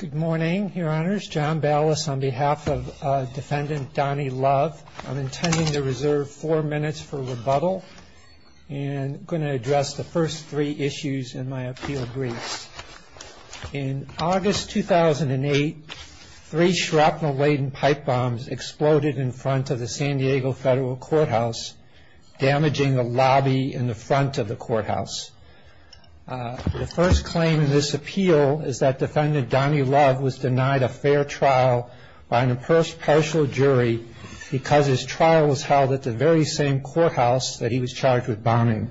In August 2008, three shrapnel-laden pipe bombs exploded in front of the San Diego Federal Courthouse. The first claim in this appeal is that defendant Donny Love was denied a fair trial by an impartial jury because his trial was held at the very same courthouse that he was charged with bombing.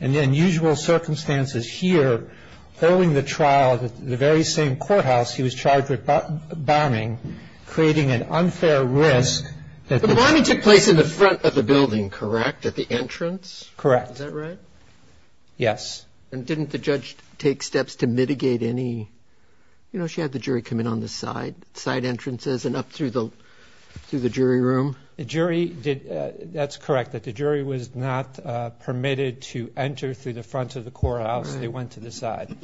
And in usual circumstances here, holding the trial at the very same courthouse he was charged with bombing, creating an unfair risk that the The bombing took place in the front of the building, correct? At the entrance? Correct. Is that right? Yes. And didn't the judge take steps to mitigate any, you know, she had the jury come in on the side, side entrances and up through the jury room? The jury did, that's correct, that the jury was not permitted to enter through the front of the courthouse, they went to the side.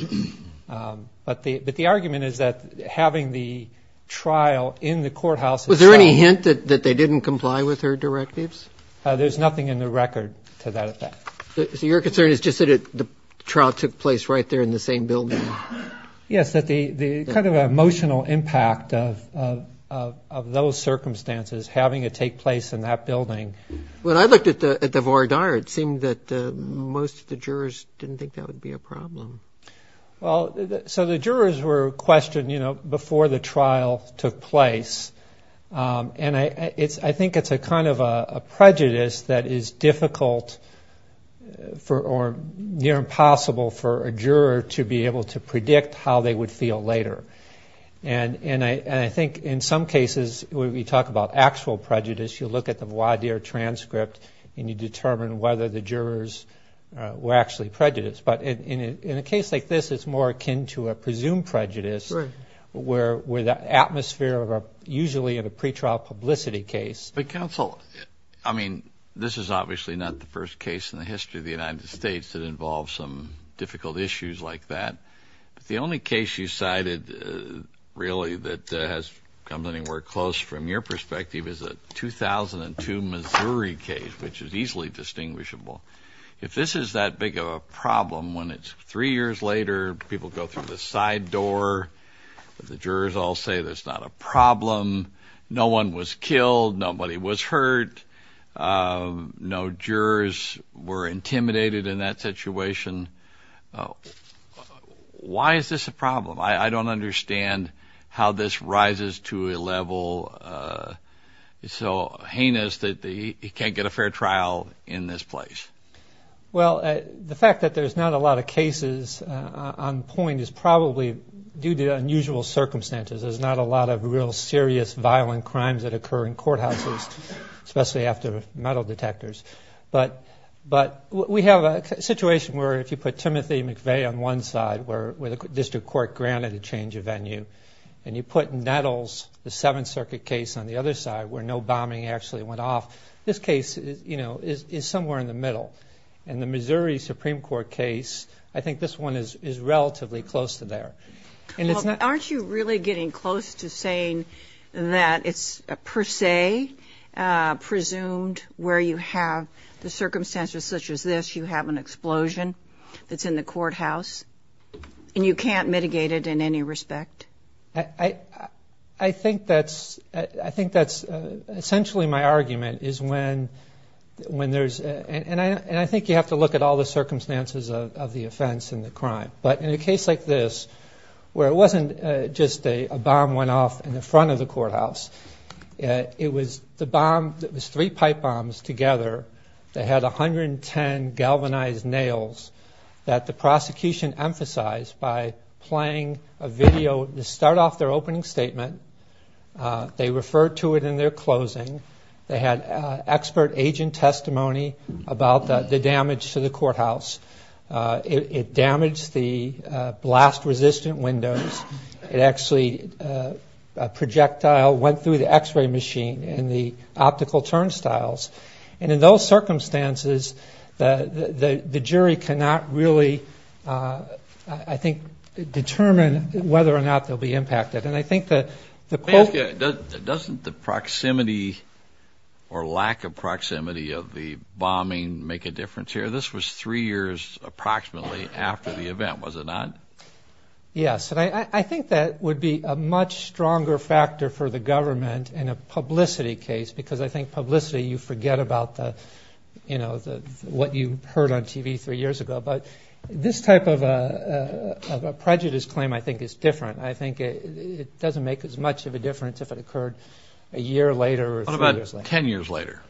But the argument is that having the trial in the courthouse itself Was there any hint that they didn't comply with her directives? There's nothing in the record to that effect. So your concern is just that the trial took place right there in the same building? Yes, that the kind of emotional impact of those circumstances, having it take place in that building When I looked at the voir dire, it seemed that most of the jurors didn't think that would be a problem. So the jurors were questioned, you know, before the trial took place. And I think it's a kind of a prejudice that is difficult for, or near impossible for a juror to be able to predict how they would feel later. And I think in some cases, when we talk about actual prejudice, you look at the voir dire transcript, and you determine whether the jurors were actually prejudiced. But in a case like this, it's more akin to a presumed prejudice where the atmosphere of a, usually in a pretrial publicity case But counsel, I mean, this is obviously not the first case in the history of the United States that involves some difficult issues like that. But the only case you cited, really, that has come anywhere close from your perspective is a 2002 Missouri case, which is easily distinguishable. If this is that big of a problem, when it's three years later, people go through the side door, the jurors all say there's not a problem, no one was killed, nobody was hurt, no jurors were intimidated in that situation. Why is this a problem? I don't understand how this rises to a level so heinous that he can't get a fair trial in this place. Well, the fact that there's not a lot of cases on point is probably due to unusual circumstances. There's not a lot of real serious violent crimes that occur in courthouses, especially after metal detectors. But we have a situation where if you put Timothy McVeigh on one side, where the district court granted a change of venue, and you put Nettles, the Seventh Circuit case, on the other side, where no bombing actually went off, this case is somewhere in the middle. In the Missouri Supreme Court case, I think this one is relatively close to there. Well, aren't you really getting close to saying that it's per se presumed where you have the circumstances such as this, you have an explosion that's in the courthouse, and you can't mitigate it in any respect? I think that's essentially my argument, is when there's... And I think you have to look at all the circumstances of the offense and the crime. But in a case like this, where it wasn't just a bomb went off in the front of the courthouse, it was three pipe bombs together that had 110 galvanized nails that the prosecution emphasized by playing a video to start off their opening statement. They referred to it in their closing. They had expert agent testimony about the damage to the courthouse. It damaged the blast-resistant windows. It actually... A projectile went through the x-ray machine and the optical turnstiles. And in those circumstances, the jury cannot really, I think, determine whether or not they'll be impacted. And I think that the... Doesn't the proximity or lack of proximity of the bombing make a difference here? This was three years approximately after the event, was it not? Yes. And I think that would be a much stronger factor for the government in a publicity case, because I think publicity, you forget about what you heard on TV three years ago. But this type of a prejudice claim, I think, is different. I think it doesn't make as much of a difference if it occurred a year later or three years later. What about 10 years later?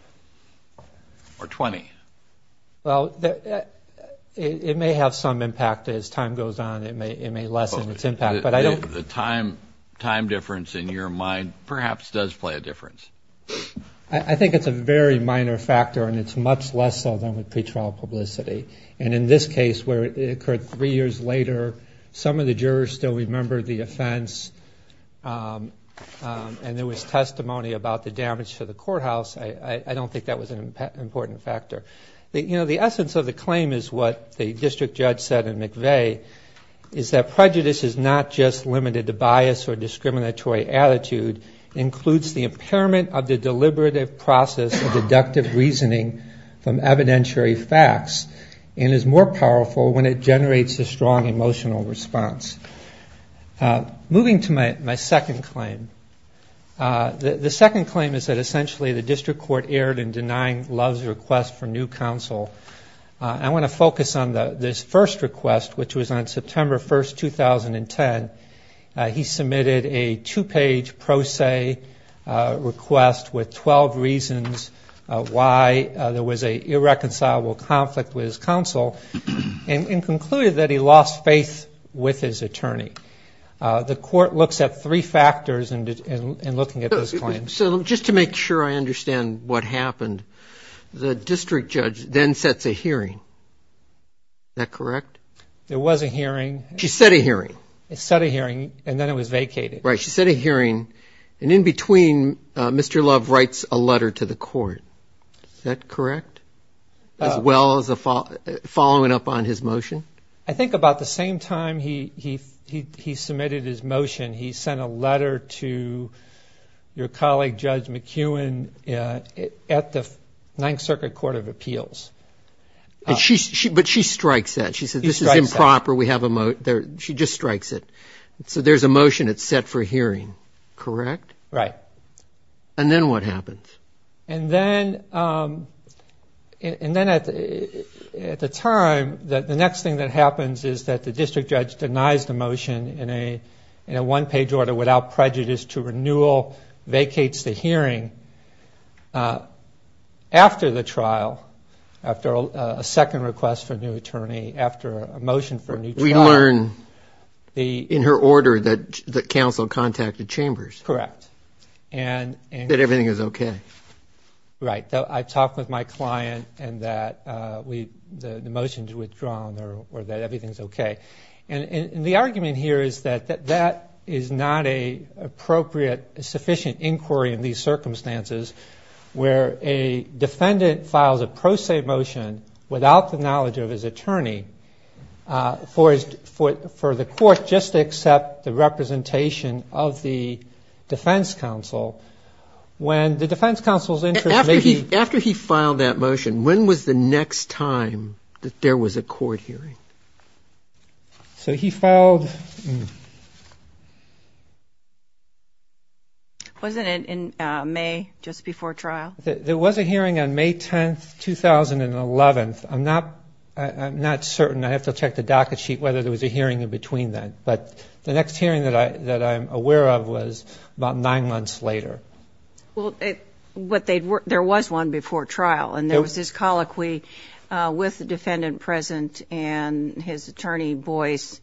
Or 20? Well, it may have some impact as time goes on. It may lessen its impact. But the time difference in your mind perhaps does play a difference. I think it's a very minor factor, and it's much less so than with pretrial publicity. And in this case, where it occurred three years later, some of the jurors still remember the offense, and there was testimony about the damage to the courthouse. I don't think that was an important factor. The essence of the claim is what the district judge said in McVeigh, is that prejudice is not just limited to bias or discriminatory attitude. It includes the impairment of the and is more powerful when it generates a strong emotional response. Moving to my second claim. The second claim is that essentially the district court erred in denying Love's request for new counsel. I want to focus on this first request, which was on September 1, 2010. He submitted a two-page pro se request with 12 reasons why there was an irreconcilable conflict with his counsel, and concluded that he lost faith with his attorney. The court looks at three factors in looking at this claim. So just to make sure I understand what happened, the district judge then sets a hearing. Is that correct? There was a hearing. She set a hearing. It set a hearing, and then it was vacated. Right. She set a hearing, and in between, Mr. Love writes a letter to the court. Is that correct? As well as following up on his motion? I think about the same time he submitted his motion, he sent a letter to your colleague Judge McEwen at the Ninth Circuit Court of Appeals. But she strikes that. She says, this is improper. She just strikes it. So there's a motion that's set for hearing, correct? Right. And then what happens? And then at the time, the next thing that happens is that the district judge denies the motion in a one-page order without prejudice to renewal, vacates the hearing after the trial, after a second request for a new attorney, after a motion for a new trial. We learn in her order that counsel contacted Chambers. Correct. That everything is okay. Right. I talked with my client, and that the motion's withdrawn, or that everything's okay. The argument here is that that is not an appropriate, sufficient inquiry in these circumstances where a defendant files a pro se motion without the knowledge of his attorney for the court just to accept the representation of the defense counsel when the defense counsel's interest may be... After he filed that motion, when was the next time that there was a court hearing? So he filed... Wasn't it in May, just before trial? There was a hearing on May 10th, 2011. I'm not certain. I have to check the docket sheet whether there was a hearing in between then, but the next hearing that I'm aware of was about nine months later. There was one before trial, and there was this colloquy with the defendant present and his attorney voice,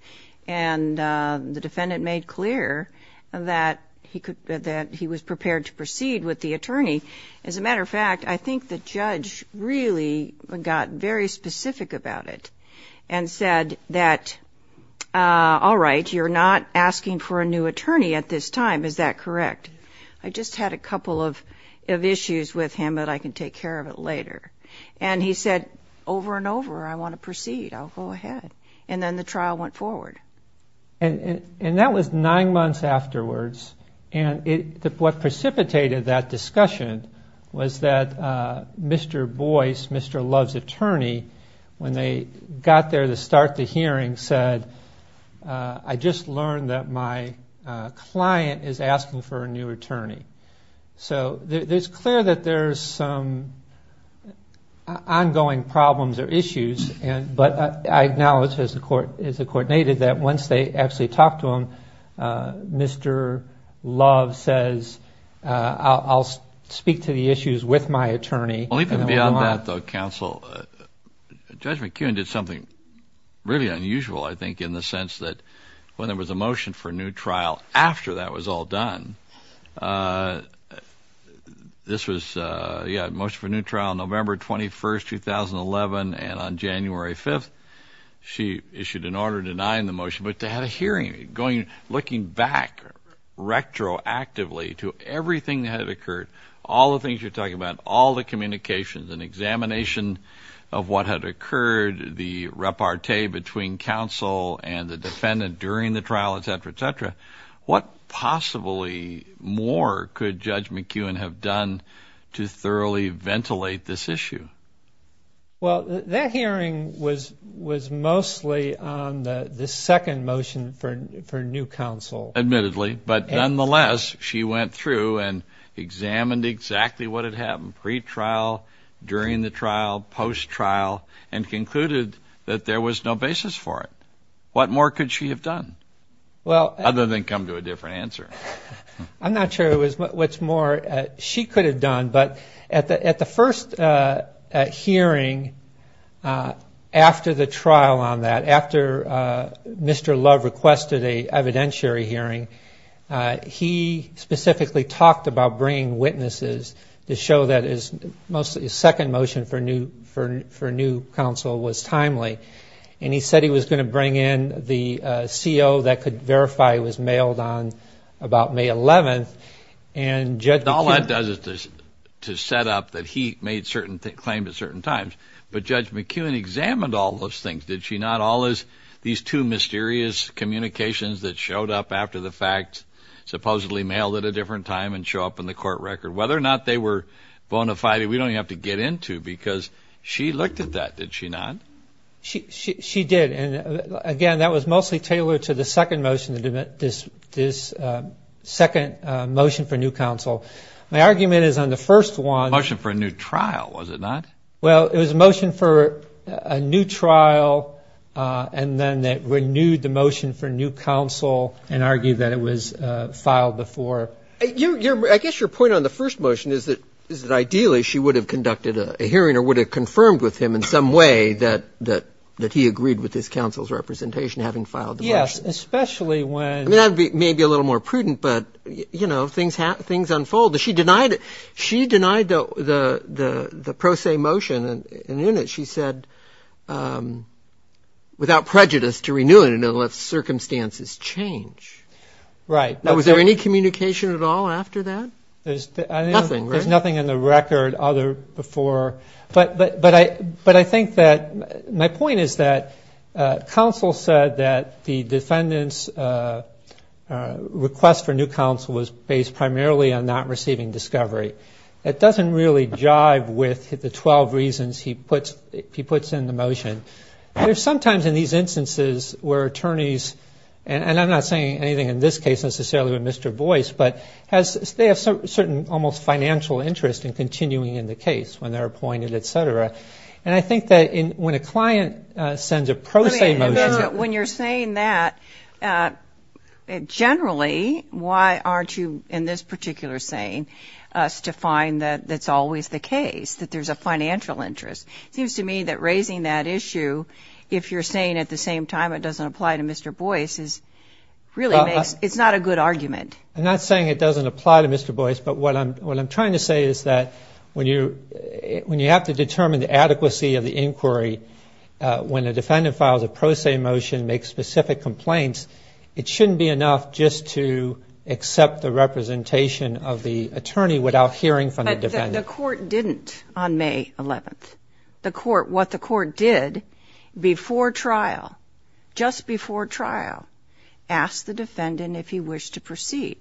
and the defendant made clear that he was prepared to proceed with the attorney. As a matter of fact, I think the judge really got very specific about it and said that, all right, you're not asking for a new attorney at this time, is that correct? I just had a couple of issues with him that I can take care of it later. And he said, over and over, I want to proceed, I'll go ahead. And then the trial went forward. And that was nine months afterwards, and what precipitated that discussion was that Mr. Boyce, Mr. Love's attorney, when they got there to start the hearing, said, I just learned that my client is asking for a new attorney. So it's clear that there's some ongoing problems or issues, but I acknowledge, as the court stated, that once they actually talked to him, Mr. Love says, I'll speak to the issues with my attorney. Well, even beyond that, though, counsel, Judge McKeown did something really unusual, I think, in the sense that when there was a motion for a new trial after that was all done, this was, yeah, motion for a new trial November 21st, 2011, and on January 5th, she issued an order denying the motion, but they had a hearing, looking back retroactively to everything that had occurred, all the things you're talking about, all the communications and examination of what had occurred, the repartee between counsel and the defendant during the trial, et cetera, et cetera. What possibly more could Judge McKeown have done to thoroughly ventilate this issue? Well, that hearing was mostly on the second motion for a new counsel. Admittedly, but nonetheless, she went through and examined exactly what had happened pre-trial, during the trial, post-trial, and concluded that there was no basis for it. What more could she have done, other than come to a different answer? I'm not sure what's more she could have done, but at the first hearing after the trial on that, after Mr. Love requested an evidentiary hearing, he specifically talked about bringing witnesses to show that his second motion for a new counsel was timely, and he said he was going to bring in the CO that could verify it was mailed on about May 11th, and Judge McKeown... All that does is to set up that he made certain claims at certain times, but Judge McKeown examined all those things, did she not? All these two mysterious communications that showed up after the fact, supposedly mailed at a different time, and show up in the court record. Whether or not they were bona fide, we don't have to get into, because she looked at that, did she not? She did, and again, that was mostly tailored to the second motion, this second motion for new counsel. My argument is on the first one... Motion for a new trial, was it not? Well, it was a motion for a new trial, and then they renewed the motion for new counsel, and argued that it was filed before... I guess your point on the first motion is that ideally she would have conducted a hearing or would have confirmed with him in some way that he agreed with this counsel's representation having filed the motion. Yes, especially when... I mean, that may be a little more prudent, but, you know, things unfold. She denied the pro se motion, and in it, she said, without prejudice, to renew it, and then let circumstances change. Right. Now, was there any communication at all after that? Nothing, right? There's nothing in the record other before... But I think that... My point is that counsel said that the defendant's request for new counsel was based primarily on not receiving discovery. That doesn't really jive with the 12 reasons he puts in the motion. There's sometimes in these instances where attorneys, and I'm not saying anything in this case necessarily with Mr. Boyce, but they have certain almost financial interest in continuing in the case when they're appointed, et cetera. And I think that when a client sends a pro se motion... to find that that's always the case, that there's a financial interest. It seems to me that raising that issue, if you're saying at the same time it doesn't apply to Mr. Boyce, is really makes... It's not a good argument. I'm not saying it doesn't apply to Mr. Boyce, but what I'm trying to say is that when you have to determine the adequacy of the inquiry, when a defendant files a pro se motion, makes specific complaints, it shouldn't be enough just to accept the representation of the attorney without hearing from the defendant. The court didn't on May 11th. What the court did before trial, just before trial, asked the defendant if he wished to proceed.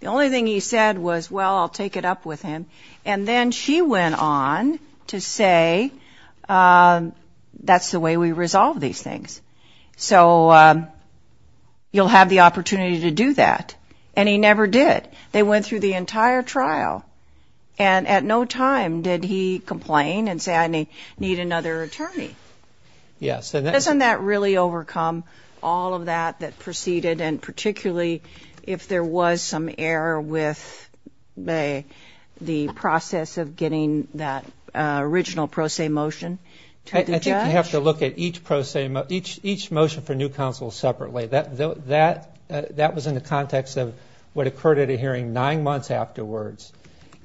The only thing he said was, well, I'll take it up with him. And then she went on to say, that's the way we resolve these things. So you'll have the opportunity to do that. And he never did. They went through the entire trial. And at no time did he complain and say, I need another attorney. Yes. Doesn't that really overcome all of that that proceeded, and particularly if there was some error with the process of getting that original pro se motion to the judge? I think you have to look at each motion for new counsel separately. That was in the context of what occurred at a hearing nine months afterwards,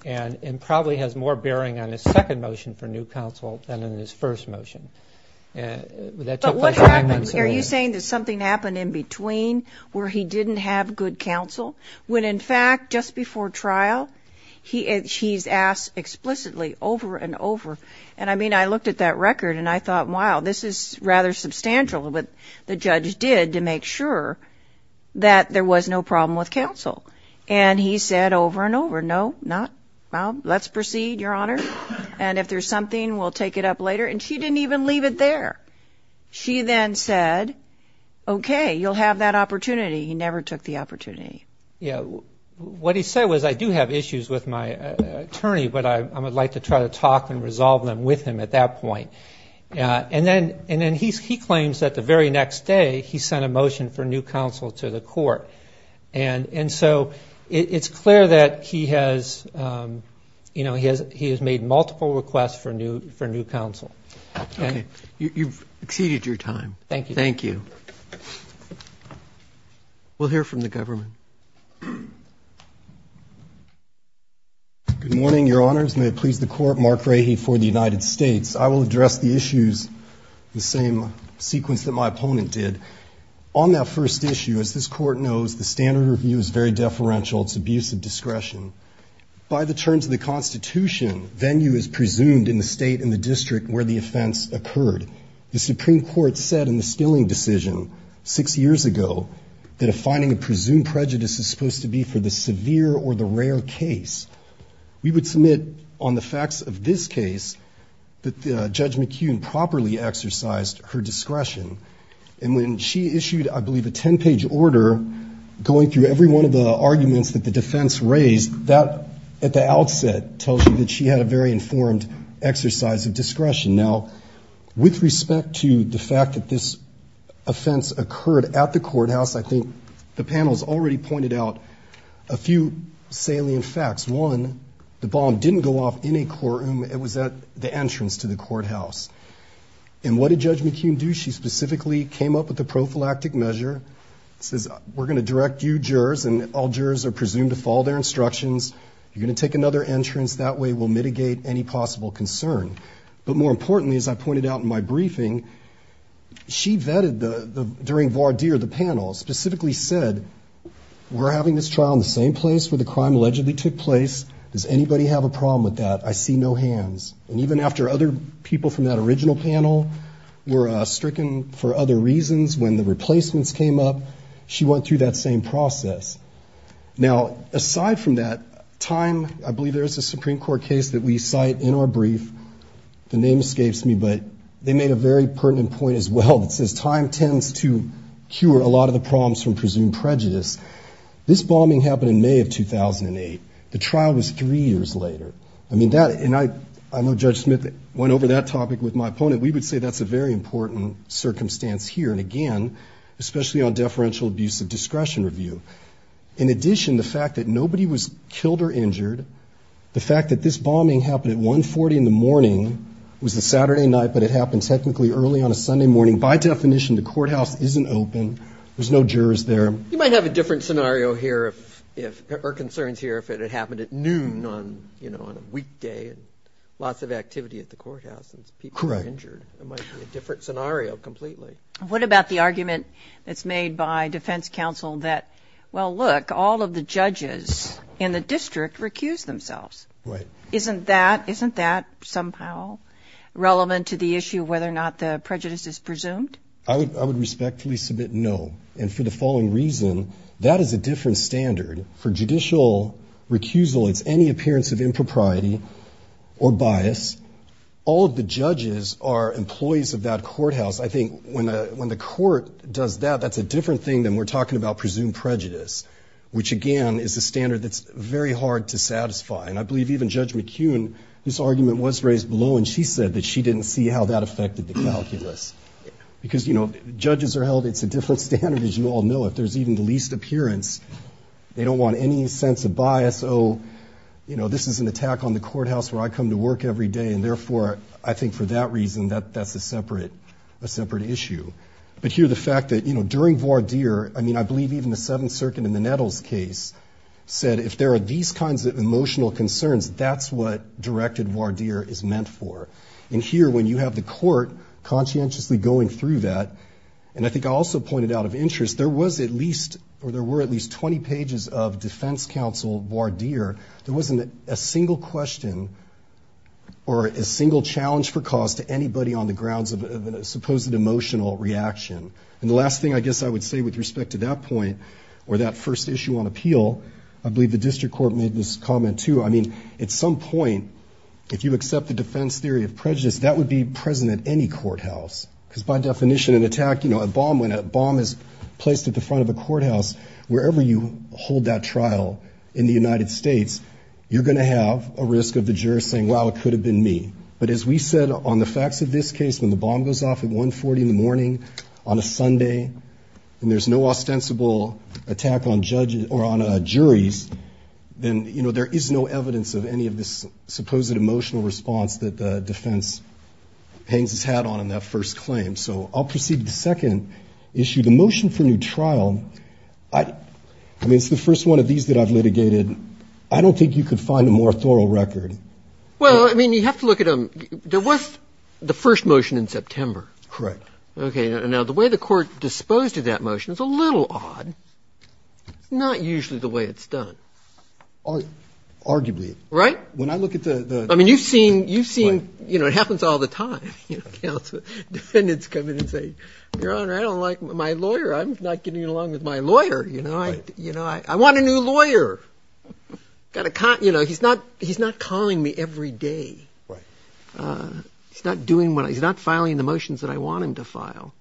and probably has more bearing on his second motion for new counsel than in his first motion. But what happens? Are you saying that something happened in between where he didn't have good counsel? When in fact, just before trial, he's asked explicitly over and over. And I looked at that record, and I thought, wow, this is rather substantial what the judge did to make sure that there was no problem with counsel. And he said over and over, no, not, well, let's proceed, Your Honor. And if there's something, we'll take it up later. And she didn't even leave it there. She then said, okay, you'll have that opportunity. He never took the opportunity. What he said was, I do have issues with my attorney, but I would like to try to talk and resolve them with him at that point. And then he claims that the very next day, he sent a motion for new counsel to the court. And so it's clear that he has made multiple requests for new counsel. Okay. You've exceeded your time. Thank you. Thank you. We'll hear from the government. Good morning, Your Honors. May it please the Court. Mark Rahe for the United States. I will address the issues, the same sequence that my opponent did. On that first issue, as this Court knows, the standard review is very deferential. It's abuse of discretion. By the terms of the Constitution, venue is presumed in the state and the district where the offense occurred. The Supreme Court said in the Stilling decision six years ago that finding a presumed prejudice is supposed to be for the severe or the rare case. We would submit on the facts of this case that Judge McKeown properly exercised her discretion. And when she issued, I believe, a ten-page order going through every one of the arguments that the defense raised, that at the outset tells you that she had a very informed exercise of discretion. Now, with respect to the fact that this offense occurred at the courthouse, I think the panel has already pointed out a few salient facts. One, the bomb didn't go off in a courtroom. It was at the entrance to the courthouse. And what did Judge McKeown do? She specifically came up with a prophylactic measure. It says, we're going to direct you jurors, and all jurors are presumed to follow their instructions. You're going to take another entrance. That way we'll mitigate any possible concern. But more importantly, as I pointed out in my briefing, she vetted during voir dire the panel, specifically said, we're having this trial in the same place where the crime allegedly took place. Does anybody have a problem with that? I see no hands. And even after other people from that original panel were stricken for other reasons when the replacements came up, she went through that same process. Now, aside from that, time, I believe there's a Supreme Court case that we cite in our brief, the name escapes me, but they made a very pertinent point as well that says time tends to cure a lot of the problems from presumed prejudice. This bombing happened in May of 2008. The trial was three years later. I mean, that, and I know Judge Smith went over that topic with my opponent. We would say that's a very important circumstance here. And again, especially on deferential abuse of discretion review. In addition, the fact that nobody was killed or injured, the fact that this bombing happened at 140 in the morning, it was a Saturday night, but it happened technically early on a Sunday morning. By definition, the courthouse isn't open. There's no jurors there. You might have a different scenario here if, or concerns here if it had happened at noon on, you know, on a weekday and lots of activity at the courthouse and people were injured. Correct. It might be a different scenario completely. What about the argument that's made by defense counsel that, well, look, all of the judges in the district recuse themselves? Right. Isn't that, isn't that somehow relevant to the issue of whether or not the prejudice is presumed? I would respectfully submit no. And for the following reason, that is a different standard. For judicial recusal, it's any appearance of impropriety or bias. All of the judges are employees of that courthouse. I think when the court does that, that's a different thing than we're talking about presumed prejudice, which again is a standard that's very hard to satisfy. And I believe even Judge McKeown, this argument was raised below and she said that she didn't see how that affected the calculus. Because, you know, judges are held, it's a different standard, as you all know. If there's even the least appearance, they don't want any sense of bias. So, you know, this is an attack on the courthouse where I come to work every day and therefore, I think for that reason, that's a separate, a separate issue. But here, the fact that, you know, during Vardir, I mean, I believe even the Seventh Circuit in the Nettles case said if there are these kinds of emotional concerns, that's what directed Vardir is meant for. And here, when you have the court conscientiously going through that, and I think I also pointed out of interest, there was at least, or there were at least 20 pages of defense counsel Vardir, there wasn't a single question or a single challenge for cause to anybody on the grounds of a supposed emotional reaction. And the last thing I guess I would say with respect to that point, or that first issue on appeal, I believe the district court made this comment too. I mean, at some point, if you accept the defense theory of prejudice, that would be present at any courthouse. Because by definition, an attack, you know, a bomb, when a bomb is placed at the front of a courthouse, wherever you hold that trial in the United States, you're going to have a risk of the juror saying, wow, it could have been me. But as we said on the facts of this case, when the bomb goes off at 140 in the morning on a Sunday, and there's no ostensible attack on judges or on juries, then, you know, there is no evidence of any of this supposed emotional response that the defense hangs its hat on in that first claim. So I'll proceed to the second issue. The motion for new trial, I mean, it's the first one of these that I've litigated. I don't think you could find a more thorough record. Well, I mean, you have to look at a – there was the first motion in September. Correct. Okay. Now, the way the Court disposed of that motion is a little odd. It's not usually the way it's done. Arguably. Right? When I look at the – I mean, you've seen – you've seen – you know, it happens all the time. You know, counsel – defendants come in and say, Your Honor, I don't like my lawyer. I'm not getting along with my lawyer. You know, I – you know, I want a new lawyer. Got to – you know, he's not – he's not calling me every day. Right. He's not doing what – he's not filing the motions that I want him to file.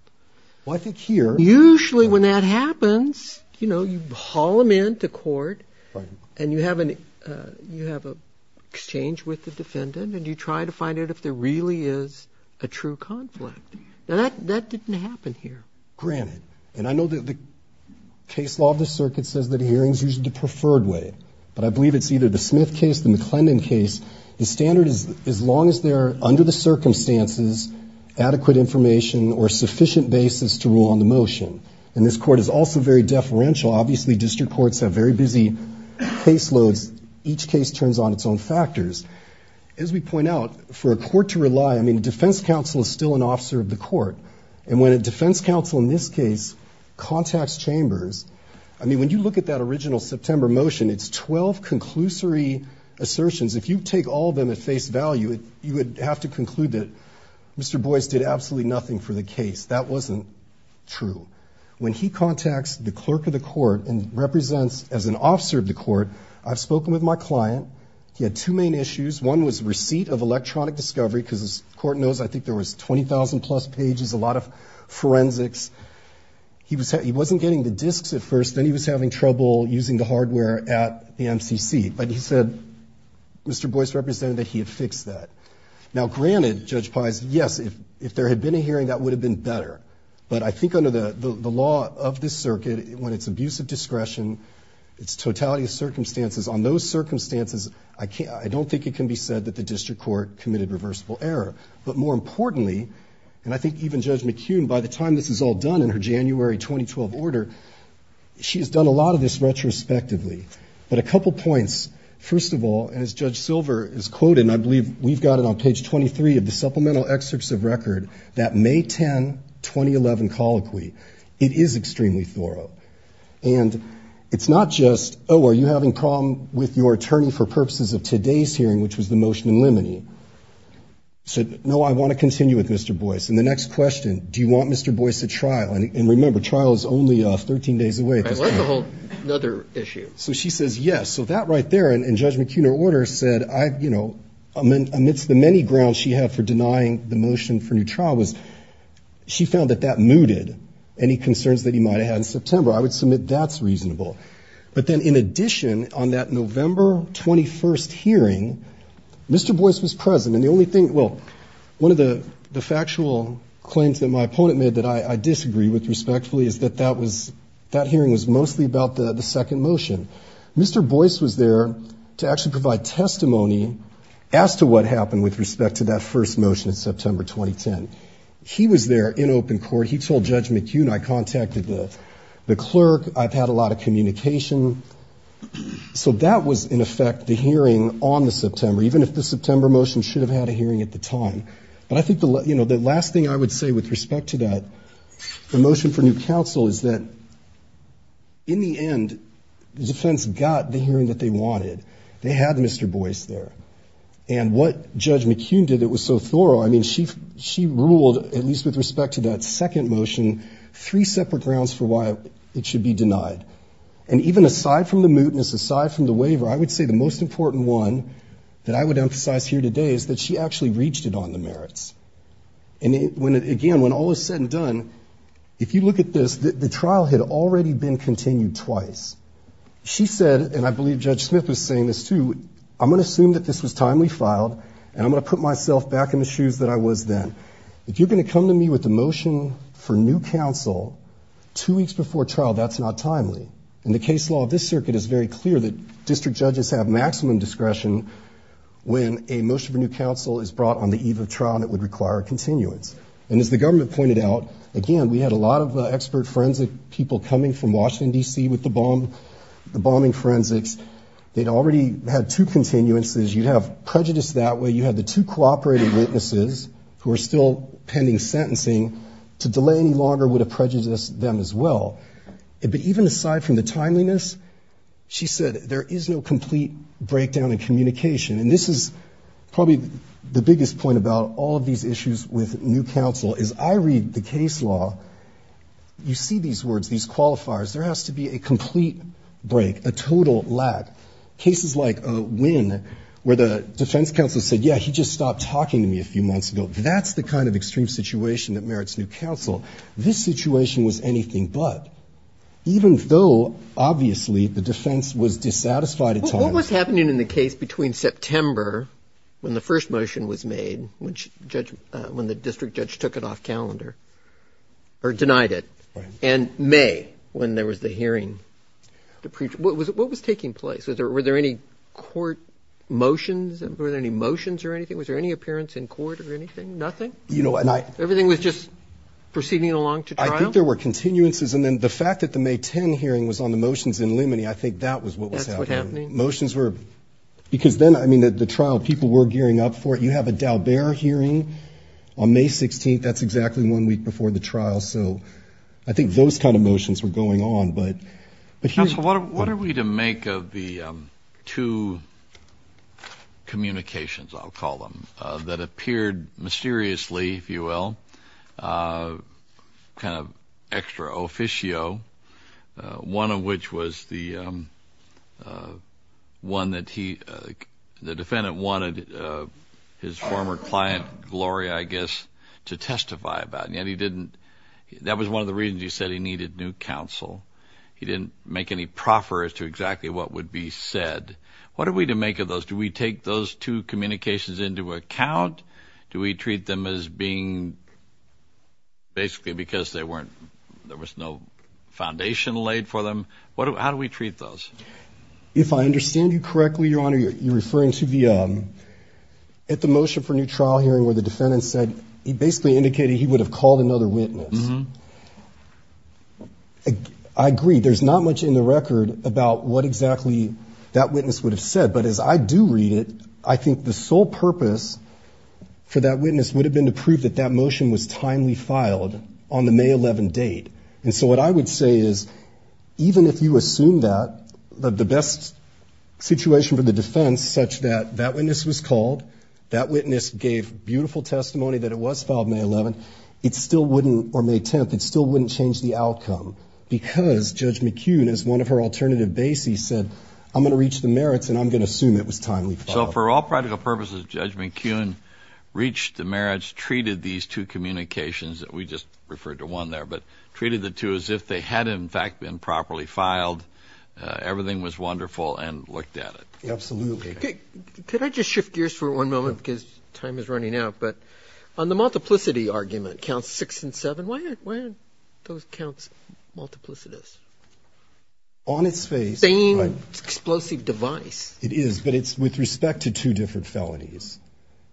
Well, I think here – Usually when that happens, you know, you haul him into court. Right. And you have an – you have an exchange with the defendant, and you try to find out if there really is a true conflict. Now, that – that didn't happen here. Granted. And I know that the case law of the circuit says that hearings are usually the preferred way. But I believe it's either the Smith case, the McClendon case. The standard is as long as there are, under the circumstances, adequate information or sufficient basis to rule on the motion. And this Court is also very deferential. Obviously, district courts have very busy caseloads. Each case turns on its own factors. As we point out, for a court to rely – I mean, a defense counsel is still an officer of the court. And when a defense counsel in this case contacts chambers – I mean, when you look at that original September motion, it's 12 conclusory assertions. If you take all of them at face value, you would have to conclude that Mr. Boyce did absolutely nothing for the case. That wasn't true. When he contacts the clerk of the court and represents as an officer of the court, I've spoken with my client. He had two main issues. One was receipt of electronic discovery, because as the Court knows, I think there was 20,000-plus pages, a lot of forensics. He was – he wasn't getting the disks at first. Then he was having trouble using the hardware at the MCC. But he said Mr. Boyce represented that he had fixed that. Now, granted, Judge Pai's – yes, if there had been a hearing, that would have been better. But I think under the law of this circuit, when it's abuse of discretion, it's totality of circumstances, on those circumstances, I can't – I don't think it can be said that the district court committed reversible error. But more importantly, and I think even Judge McKeown, by the time this is all done in her January 2012 order, she has done a lot of this retrospectively. But a couple points. First of all, as Judge Silver is quoting, I believe we've got it on page 23 of the Supplemental Excerpts of Record, that May 10, 2011 colloquy. It is extremely thorough. And it's not just, oh, are you having a problem with your attorney for purposes of today's hearing, which was the motion in limine. No, I want to continue with Mr. Boyce. And the next question, do you want Mr. Boyce at trial? And remember, trial is only 13 days away. I like the whole other issue. So she says yes. So that right there, in Judge McKeown's order, said I've, you know, amidst the many grounds she had for denying the motion for new trial was, she found that that mooted any concerns that he might have had in September. I would submit that's reasonable. But then in addition, on that November 21st hearing, Mr. Boyce was present. And the only thing, well, one of the factual claims that my opponent made that I disagree with respectfully is that that was, that hearing was mostly about the second motion. Mr. Boyce was there to actually provide testimony as to what happened with respect to that first motion in September 2010. He was there in open court. He told Judge McKeown I contacted the clerk. I've had a lot of communication. So that was, in effect, the hearing on the September, even if the September motion should have had a hearing at the time. But I think, you know, the last thing I would say with respect to that, the motion for new counsel is that in the end, the defense got the hearing that they wanted. They had Mr. Boyce there. And what Judge McKeown did, it was so thorough. I mean, she, she ruled, at least with respect to that second motion, three separate grounds for why it should be denied. And even aside from the mootness, aside from the waiver, I would say the most important one that I would emphasize here today is that she actually reached it on the merits. And when, again, when all is said and done, if you look at this, the trial had already been continued twice. She said, and I believe Judge Smith was saying this too, I'm going to assume that this was timely filed, and I'm going to put myself back in the shoes that I was then. If you're going to come to me with a motion for new counsel two weeks before trial, that's not timely. In the case law of this circuit, it's very clear that district judges have maximum discretion when a motion for new counsel is brought on the eve of trial and it would require a continuance. And as the government pointed out, again, we had a lot of expert forensic people coming from Washington, D.C. with the bombing forensics. They'd already had two continuances. You'd have prejudice that way. You had the two cooperating witnesses who are still pending sentencing. To delay any longer would have prejudiced them as well. But even aside from the timeliness, she said there is no complete breakdown in communication. And this is probably the biggest point about all of these issues with new counsel, is I read the case law, you see these words, these qualifiers, there has to be a complete break, a total lack. Cases like Wynn, where the defense counsel said, yeah, he just stopped talking to me a few months ago, that's the kind of extreme situation that merits new counsel. This situation was anything but. Even though, obviously, the defense was dissatisfied at times. What was happening in the case between September, when the first motion was made, when the district judge took it off calendar, or denied it, and May, when there was the hearing? What was taking place? Were there any court motions? Were there any motions or anything? Was there any appearance in court or anything? Nothing? Everything was just proceeding along to trial? I think there were continuances. And then the fact that the May 10 hearing was on the trial, people were gearing up for it. You have a Daubert hearing on May 16th, that's exactly one week before the trial. So I think those kind of motions were going on. Counsel, what are we to make of the two communications, I'll call them, that appeared mysteriously, if you will, kind of extra officio, one of which was the, I think it was the one that the defendant wanted his former client, Gloria, I guess, to testify about. And yet he didn't, that was one of the reasons you said he needed new counsel. He didn't make any proffer as to exactly what would be said. What are we to make of those? Do we take those two communications into account? Do we treat them as being basically because there was no foundation laid for them? How do we treat those? If I understand you correctly, Your Honor, you're referring to the, at the motion for new trial hearing where the defendant said, he basically indicated he would have called another witness. I agree. There's not much in the record about what exactly that witness would have said. But as I do read it, I think the sole purpose for that witness would have been to prove that that motion was timely filed on the May 11 date. And so what I would say is, even if you assume that, the best situation for the defense such that that witness was called, that witness gave beautiful testimony that it was filed May 11, it still wouldn't, or May 10, it still wouldn't change the outcome because Judge McKeown, as one of her alternative bases said, I'm going to reach the merits and I'm going to assume it was timely filed. So for all practical purposes, Judge McKeown reached the merits, treated these two communications that we just referred to one there, but treated the two as if they had, in fact, been properly filed. Everything was wonderful and looked at it. Absolutely. Could I just shift gears for one moment because time is running out, but on the multiplicity argument, counts six and seven, why aren't those counts multiplicitous? On its face, right. Same explosive device. It is, but it's with respect to two different felonies.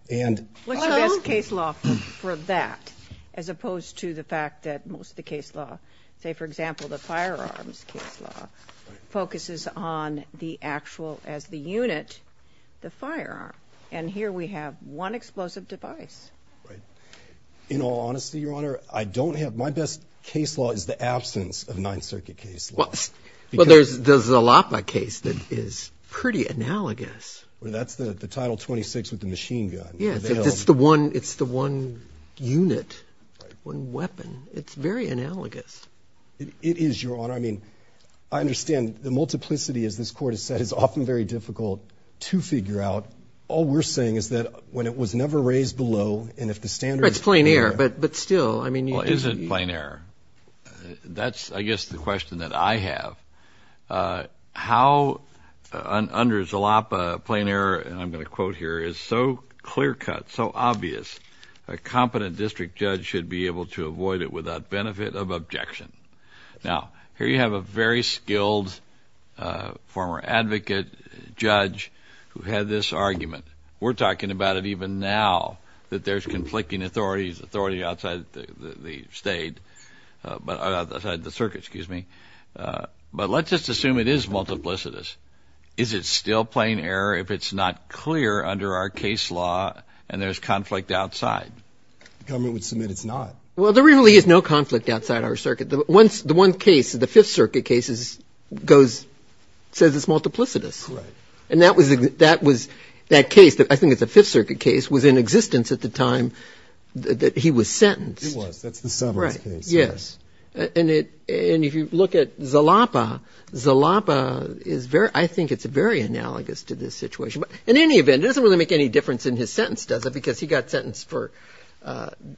What's the best case law for that, as opposed to the fact that most of the case law, say for example, the firearms case law, focuses on the actual, as the unit, the firearm. And here we have one explosive device. In all honesty, Your Honor, I don't have, my best case law is the absence of Ninth Circuit case law. Well, there's the Zalapa case that is pretty analogous. That's the Title 26 with the machine gun. Yes, it's the one unit, one weapon. It's very analogous. It is, Your Honor. I mean, I understand the multiplicity, as this court has said, is often very difficult to figure out. All we're saying is that when it was never raised below, and if the standards... It's plain air, but still, I mean... Is it plain air? That's I guess the question that I have. How, under Zalapa, plain air, and I'm going to quote here, is so clear cut, so obvious, a competent district judge should be able to avoid it without benefit of objection. Now, here you have a very skilled former advocate judge who had this argument. We're talking about it even now, that there's conflicting authorities, authority outside the state, outside the circuit, excuse me. But let's just assume it is multiplicitous. Is it still plain air if it's not clear under our case law, and there's conflict outside? The government would submit it's not. Well, there really is no conflict outside our circuit. The one case, the Fifth Circuit case, says it's multiplicitous. And that case, I think it's a Fifth Circuit case, was in existence at the time that he was sentenced. It was. That's the Seventh case. Right. Yes. And if you look at Zalapa, Zalapa is very, I think it's very analogous to this situation. But in any event, it doesn't really make any difference in his sentence, does it? Because he got sentenced for,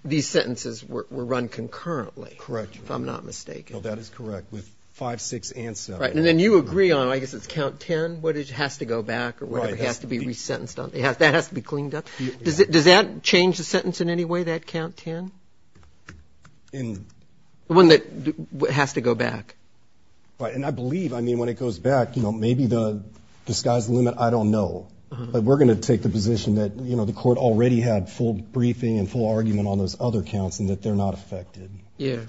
these sentences were run concurrently. Correct. If I'm not mistaken. No, that is correct. With 5, 6, and 7. Right. And then you agree on, I guess it's count 10, what has to go back or whatever has to be resentenced on. Right. That has to be cleaned up. Does that change the sentence in any way, that count 10? The one that has to go back. Right. And I believe, I mean, when it goes back, you know, maybe the sky's the limit, I don't know. But we're going to take the position that, you know, the court already had full briefing and full argument on those other counts and that they're not affected. Yeah.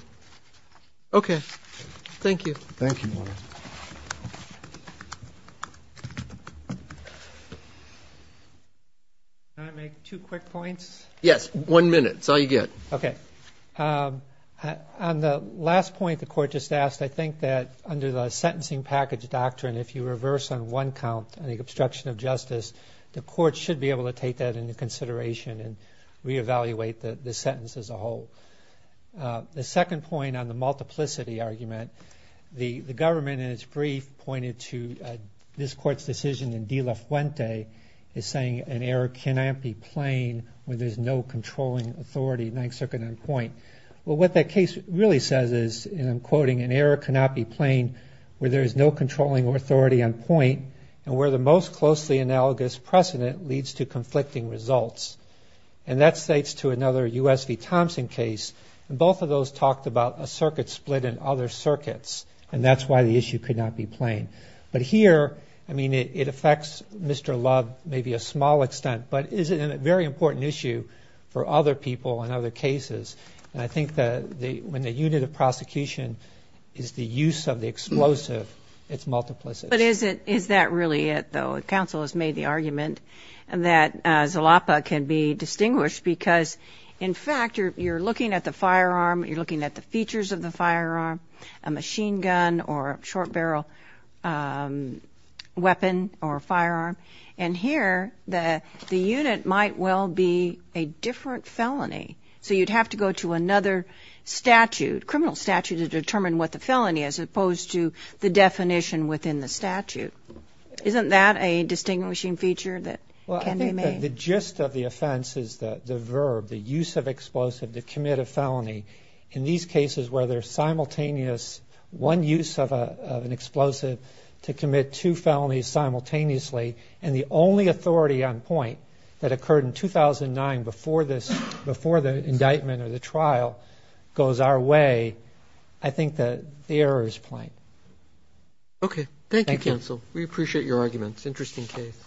Okay. Thank you. Thank you. Can I make two quick points? Yes. One minute. It's all you get. Okay. On the last point the court just asked, I think that under the sentencing package doctrine, if you reverse on one count, the obstruction of justice, the court should be able to take that into consideration and reevaluate the sentence as a whole. The second point on the multiplicity argument, the government in its brief pointed to this court's decision in De La Fuente is saying an error cannot be plain where there's no controlling authority, and I took it on point. Well, what that case really says is, and I'm quoting, an error cannot be plain where there is no controlling authority on point and where the most closely analogous precedent leads to conflicting results. And that states to another U.S. v. Thompson case, and both of those talked about a circuit split in other circuits, and that's why the issue could not be plain. But here, I mean, it affects Mr. Love maybe a small extent, but it is a very important issue for other people in other cases, and I think that when the unit of prosecution is the use of the explosive, it's multiplicity. But is that really it, though? The counsel has made the argument that Zalapa can be distinguished because, in fact, you're looking at the firearm, you're looking at the features of the firearm, a machine gun or a short barrel weapon or firearm, and here the unit might well be a different felony. So you'd have to go to another statute, criminal statute, to determine what the felony is as opposed to the definition within the statute. Isn't that a distinguishing feature that can be made? Well, I think that the gist of the offense is the verb, the use of explosive to commit a felony. In these cases where there's simultaneous one use of an explosive to commit two felonies simultaneously and the only authority on point that occurred in 2009 before the indictment or the trial goes our way, I think that the error is plain. Okay. Thank you, counsel. We appreciate your arguments. Interesting case.